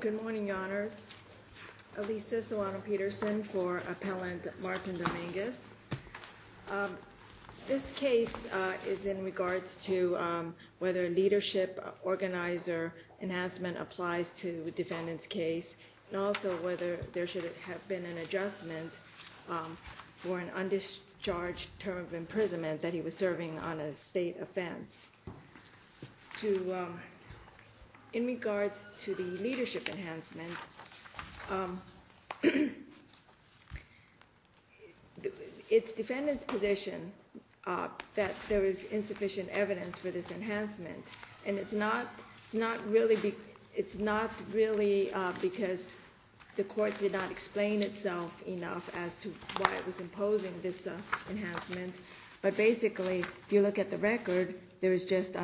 Good morning, Your Honors. Alisa Solano-Peterson for Appellant Martin Dominguez. This case is in regards to whether leadership organizer enhancement applies to defendant's case, and also whether there should have been an adjustment for an undischarged term of imprisonment that he was serving on a state offense. In regards to the leadership enhancement, it's defendant's position that there is insufficient evidence for this enhancement, and it's not really because the court did not explain itself enough as to why it was imposing this enhancement, but basically, if you look at the record, there is just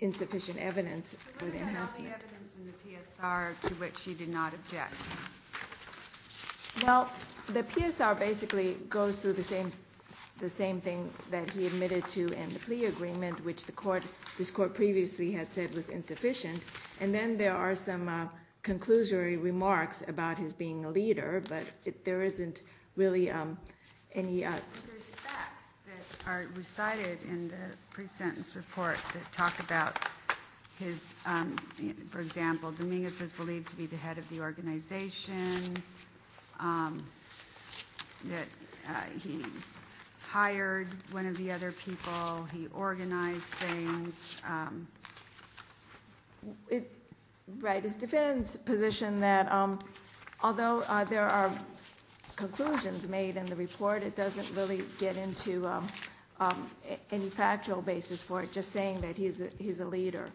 insufficient evidence for the enhancement. But what about all the evidence in the PSR to which you did not object? Well, the PSR basically goes through the same thing that he admitted to in the plea agreement, which this court previously had said was insufficient, and then there are some conclusory remarks about his being a leader, but there isn't really any. There's facts that are recited in the pre-sentence report that talk about his, for example, Dominguez was believed to be the head of the organization, that he hired one of the other people, he organized things. Right, it's defendant's position that although there are conclusions made in the report, it doesn't really get into any factual basis for it, just saying that he's a leader.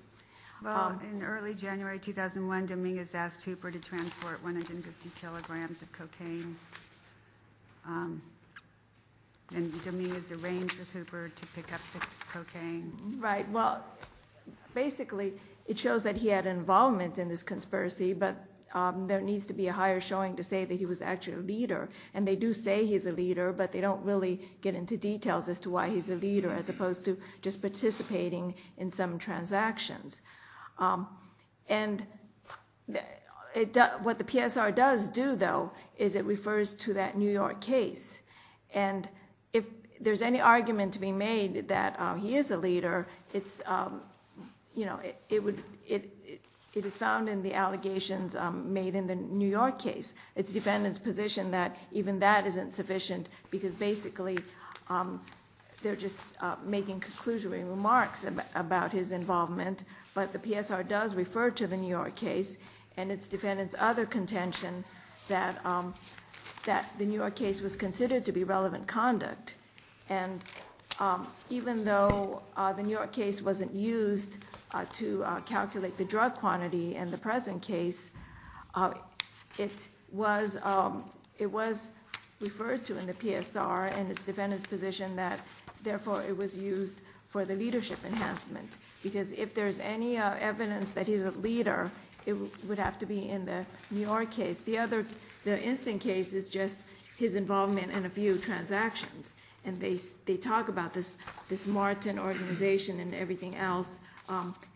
Well, in early January 2001, Dominguez asked Hooper to transport 150 kilograms of cocaine, and Dominguez arranged with Hooper to pick up the cocaine. Right, well, basically it shows that he had involvement in this conspiracy, but there needs to be a higher showing to say that he was actually a leader. And they do say he's a leader, but they don't really get into details as to why he's a leader, as opposed to just participating in some transactions. And what the PSR does do, though, is it refers to that New York case. And if there's any argument to be made that he is a leader, it is found in the allegations made in the New York case. It's defendant's position that even that isn't sufficient, because basically they're just making conclusionary remarks about his involvement. But the PSR does refer to the New York case, and it's defendant's other contention that the New York case was considered to be relevant conduct. And even though the New York case wasn't used to calculate the drug quantity in the present case, it was referred to in the PSR, and it's defendant's position that, therefore, it was used for the leadership enhancement. Because if there's any evidence that he's a leader, it would have to be in the New York case. The other instant case is just his involvement in a few transactions. And they talk about this Martin organization and everything else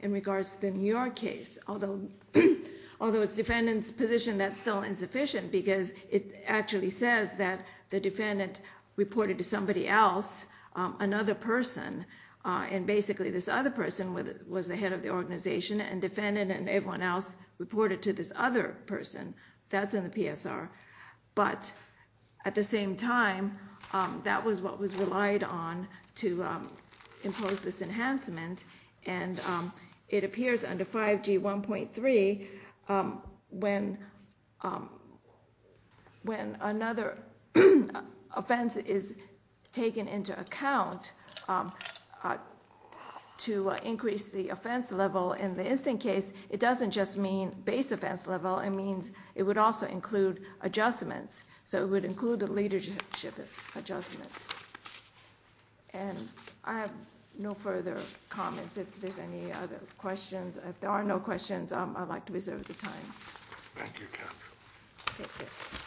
in regards to the New York case. Although it's defendant's position that's still insufficient, because it actually says that the defendant reported to somebody else, another person, and basically this other person was the head of the organization, and defendant and everyone else reported to this other person. That's in the PSR. But at the same time, that was what was relied on to impose this enhancement, and it appears under 5G1.3 when another offense is taken into account to increase the offense level. In the instant case, it doesn't just mean base offense level. It means it would also include adjustments. So it would include the leadership adjustment. And I have no further comments if there's any other questions. If there are no questions, I'd like to reserve the time. Thank you, counsel. Thank you.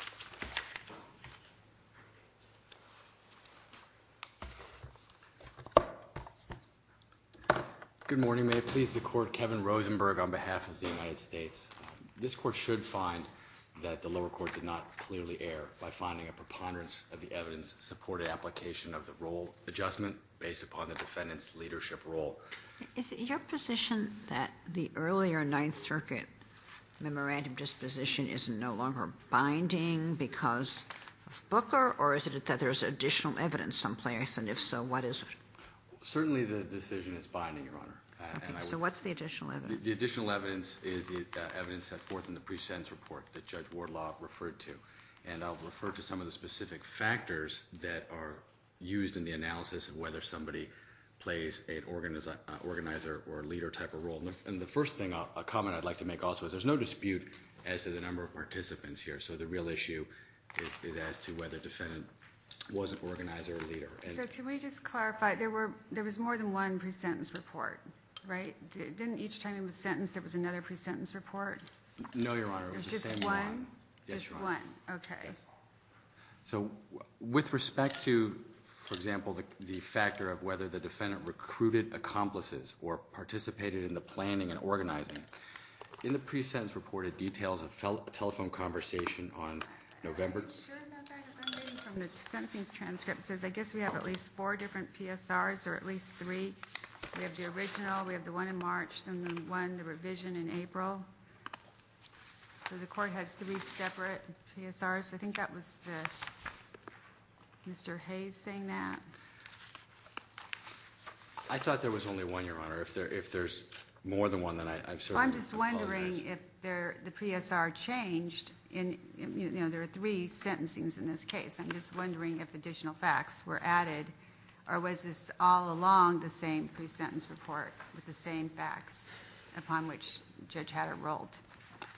Good morning. May it please the Court, Kevin Rosenberg on behalf of the United States. This Court should find that the lower court did not clearly err by finding a preponderance of the evidence supported application of the role adjustment based upon the defendant's leadership role. Is it your position that the earlier Ninth Circuit memorandum disposition is no longer binding because of Booker, or is it that there's additional evidence someplace, and if so, what is it? Certainly the decision is binding, Your Honor. Okay. So what's the additional evidence? The additional evidence is the evidence set forth in the pre-sentence report that Judge Wardlaw referred to, and I'll refer to some of the specific factors that are used in the analysis of whether somebody plays an organizer or a leader type of role. And the first thing, a comment I'd like to make also is there's no dispute as to the number of participants here, so the real issue is as to whether the defendant was an organizer or a leader. So can we just clarify? There was more than one pre-sentence report, right? Didn't each time he was sentenced there was another pre-sentence report? No, Your Honor. It was just one? Just one. Just one. Okay. So with respect to, for example, the factor of whether the defendant recruited accomplices or participated in the planning and organizing, in the pre-sentence report it details a telephone conversation on November. I'm not sure about that because I'm reading from the sentencing's transcript. It says I guess we have at least four different PSRs or at least three. We have the original. We have the one in March and the one, the revision in April. So the court has three separate PSRs. I think that was Mr. Hayes saying that. I thought there was only one, Your Honor. If there's more than one, then I'm sorry. I'm just wondering if the PSR changed. You know, there are three sentencing's in this case. I'm just wondering if additional facts were added or was this all along the same pre-sentence report with the same facts upon which Judge Hatter rolled?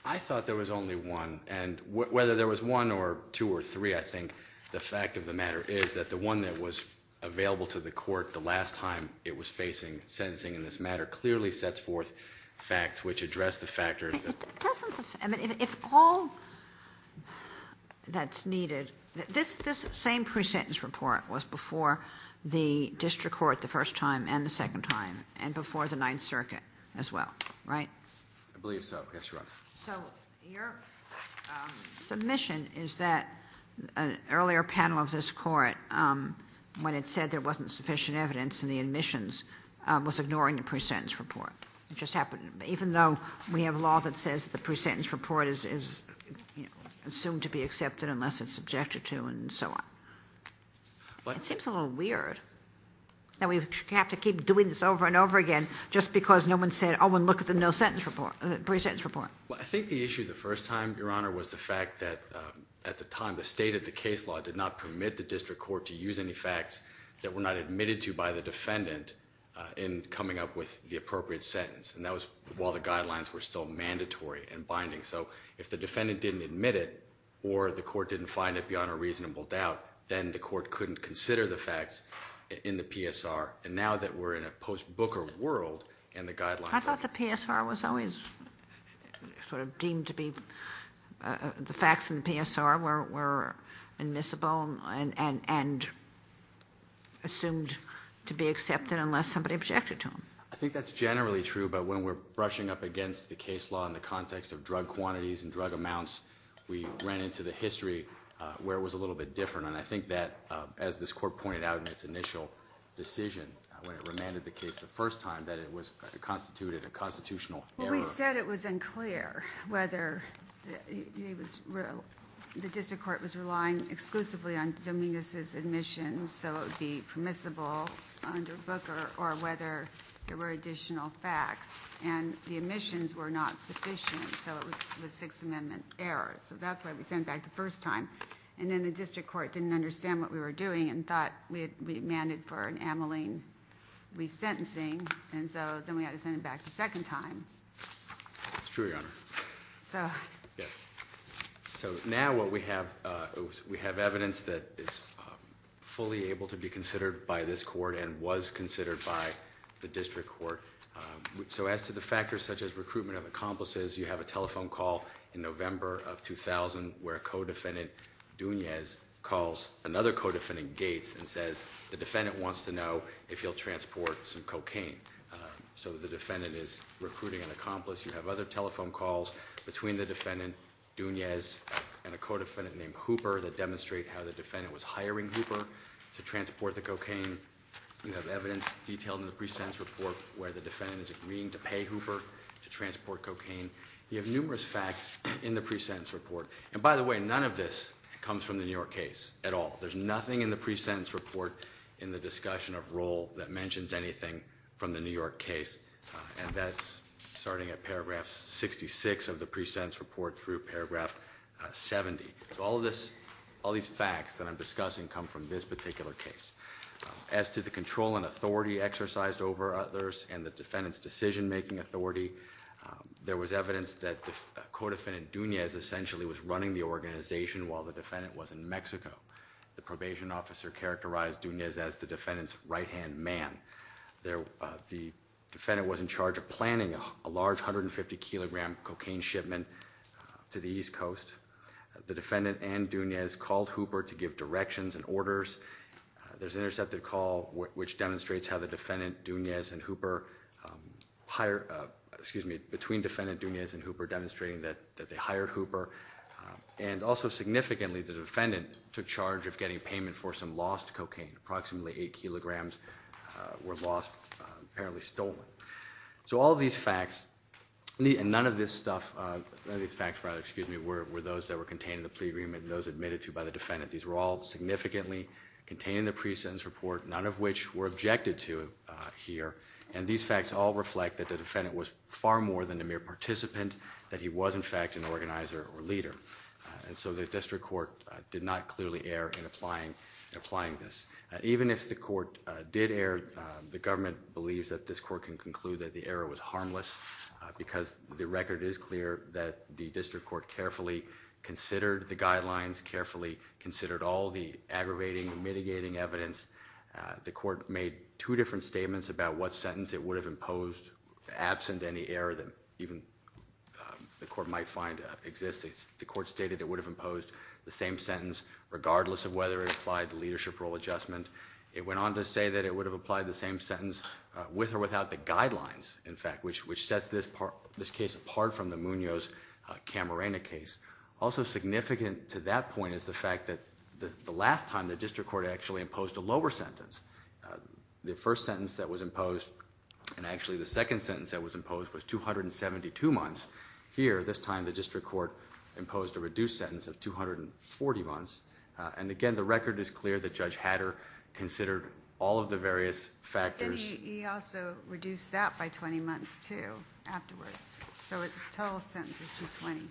I thought there was only one, and whether there was one or two or three, I think the fact of the matter is that the one that was available to the court the last time it was facing sentencing in this matter clearly sets forth facts which address the factors. If all that's needed, this same pre-sentence report was before the district court the first time and the second time and before the Ninth Circuit as well, right? I believe so, yes, Your Honor. So your submission is that an earlier panel of this court, when it said there wasn't sufficient evidence in the admissions, was ignoring the pre-sentence report. It just happened. Even though we have law that says the pre-sentence report is assumed to be accepted unless it's subjected to and so on. It seems a little weird that we have to keep doing this over and over again just because no one said, oh, and look at the pre-sentence report. Well, I think the issue the first time, Your Honor, was the fact that at the time the state of the case law did not permit the district court to use any facts that were not admitted to by the defendant in coming up with the appropriate sentence. And that was while the guidelines were still mandatory and binding. So if the defendant didn't admit it or the court didn't find it beyond a reasonable doubt, then the court couldn't consider the facts in the PSR. And now that we're in a post-Booker world and the guidelines are- I thought the PSR was always sort of deemed to be- the facts in the PSR were admissible and assumed to be accepted unless somebody objected to them. I think that's generally true, but when we're brushing up against the case law in the context of drug quantities and drug amounts, we ran into the history where it was a little bit different. And I think that, as this court pointed out in its initial decision, when it remanded the case the first time, that it constituted a constitutional error. We said it was unclear whether the district court was relying exclusively on Dominguez's admissions so it would be permissible under Booker or whether there were additional facts. And the admissions were not sufficient, so it was a Sixth Amendment error. So that's why we sent it back the first time. And then the district court didn't understand what we were doing and thought we had remanded for an amylene resentencing. And so then we had to send it back the second time. That's true, Your Honor. So- Yes. So now what we have, we have evidence that is fully able to be considered by this court and was considered by the district court. So as to the factors such as recruitment of accomplices, you have a telephone call in November of 2000 where co-defendant Dominguez calls another co-defendant Gates and says the defendant wants to know if he'll transport some cocaine. So the defendant is recruiting an accomplice. You have other telephone calls between the defendant, Dominguez, and a co-defendant named Hooper that demonstrate how the defendant was hiring Hooper to transport the cocaine. You have evidence detailed in the pre-sentence report where the defendant is agreeing to pay Hooper to transport cocaine. You have numerous facts in the pre-sentence report. And by the way, none of this comes from the New York case at all. There's nothing in the pre-sentence report in the discussion of role that mentions anything from the New York case, and that's starting at paragraph 66 of the pre-sentence report through paragraph 70. So all of this, all these facts that I'm discussing come from this particular case. As to the control and authority exercised over others and the defendant's decision-making authority, there was evidence that co-defendant Dominguez essentially was running the organization while the defendant was in Mexico. The probation officer characterized Dominguez as the defendant's right-hand man. The defendant was in charge of planning a large 150-kilogram cocaine shipment to the East Coast. The defendant and Dominguez called Hooper to give directions and orders. There's an intercepted call which demonstrates how the defendant, Dominguez and Hooper, excuse me, between defendant Dominguez and Hooper, demonstrating that they hired Hooper. And also significantly, the defendant took charge of getting payment for some lost cocaine. Approximately 8 kilograms were lost, apparently stolen. So all of these facts, and none of this stuff, none of these facts, excuse me, were those that were contained in the plea agreement and those admitted to by the defendant. These were all significantly contained in the pre-sentence report, none of which were objected to here. And these facts all reflect that the defendant was far more than a mere participant, that he was, in fact, an organizer or leader. And so the district court did not clearly err in applying this. Even if the court did err, the government believes that this court can conclude that the error was harmless because the record is clear that the district court carefully considered the guidelines, carefully considered all the aggravating, mitigating evidence. The court made two different statements about what sentence it would have imposed, absent any error that even the court might find exists. The court stated it would have imposed the same sentence, regardless of whether it applied the leadership role adjustment. It went on to say that it would have applied the same sentence with or without the guidelines, in fact, which sets this case apart from the Munoz-Camarena case. Also significant to that point is the fact that the last time the district court actually imposed a lower sentence. The first sentence that was imposed, and actually the second sentence that was imposed, was 272 months. Here, this time, the district court imposed a reduced sentence of 240 months. And again, the record is clear that Judge Hatter considered all of the various factors. And he also reduced that by 20 months, too, afterwards. So his total sentence was 220.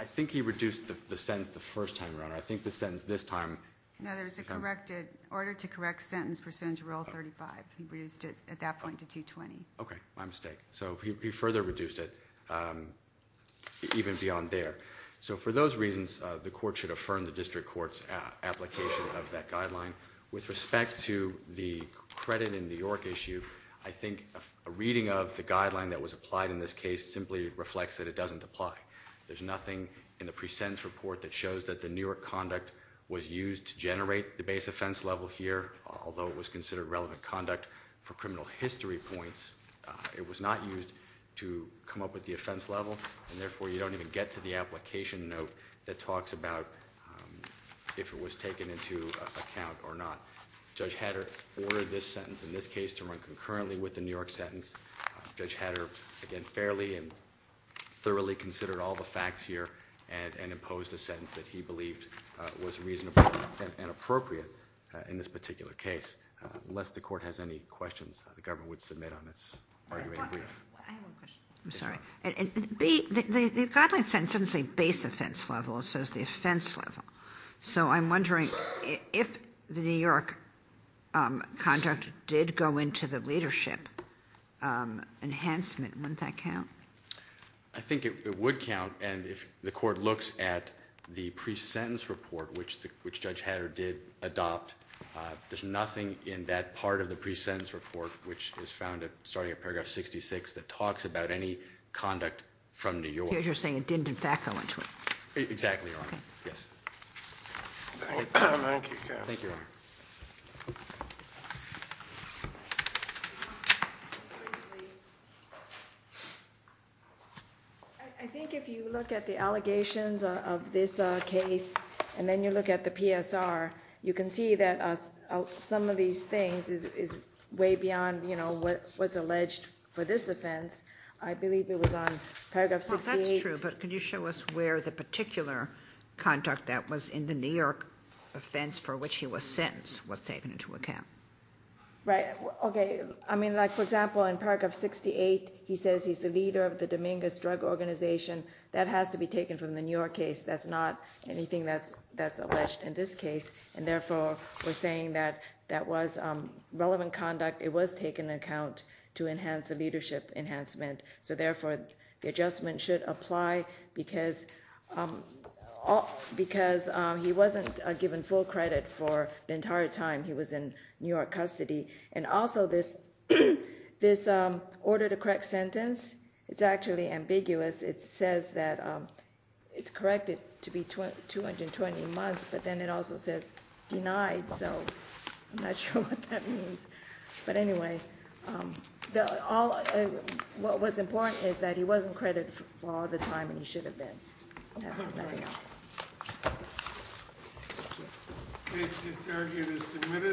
I think he reduced the sentence the first time, Your Honor. I think the sentence this time. No, there was a corrected order to correct sentence pursuant to Rule 35. He reduced it at that point to 220. Okay, my mistake. So he further reduced it, even beyond there. So for those reasons, the court should affirm the district court's application of that guideline. With respect to the credit in New York issue, I think a reading of the guideline that was applied in this case simply reflects that it doesn't apply. There's nothing in the pre-sentence report that shows that the New York conduct was used to generate the base offense level here, although it was considered relevant conduct for criminal history points. It was not used to come up with the offense level, and therefore you don't even get to the application note that talks about if it was taken into account or not. Judge Hatter ordered this sentence in this case to run concurrently with the New York sentence. Judge Hatter, again, fairly and thoroughly considered all the facts here and imposed a sentence that he believed was reasonable and appropriate in this particular case. Unless the court has any questions, the government would submit on its argument in brief. I have one question. I'm sorry. The guideline sentence doesn't say base offense level. It says the offense level. So I'm wondering if the New York conduct did go into the leadership enhancement, wouldn't that count? I think it would count, and if the court looks at the pre-sentence report, which Judge Hatter did adopt, there's nothing in that part of the pre-sentence report, which is found starting at paragraph 66, that talks about any conduct from New York. You're saying it didn't, in fact, go into it. Exactly, Your Honor. Yes. Thank you. Thank you, Your Honor. I think if you look at the allegations of this case and then you look at the PSR, you can see that some of these things is way beyond, you know, what's alleged for this offense. I believe it was on paragraph 68. Well, that's true, but can you show us where the particular conduct that was in the New York offense for which he was sentenced was taken into account? Right. Okay. I mean, like, for example, in paragraph 68, he says he's the leader of the Dominguez Drug Organization. That has to be taken from the New York case. That's not anything that's alleged in this case. And, therefore, we're saying that that was relevant conduct. It was taken into account to enhance the leadership enhancement. So, therefore, the adjustment should apply because he wasn't given full credit for the entire time he was in New York custody. And also this order to correct sentence, it's actually ambiguous. It says that it's corrected to be 220 months, but then it also says denied. So I'm not sure what that means. But, anyway, what's important is that he wasn't credited for all the time and he should have been. Nothing else. Thank you. The case is submitted.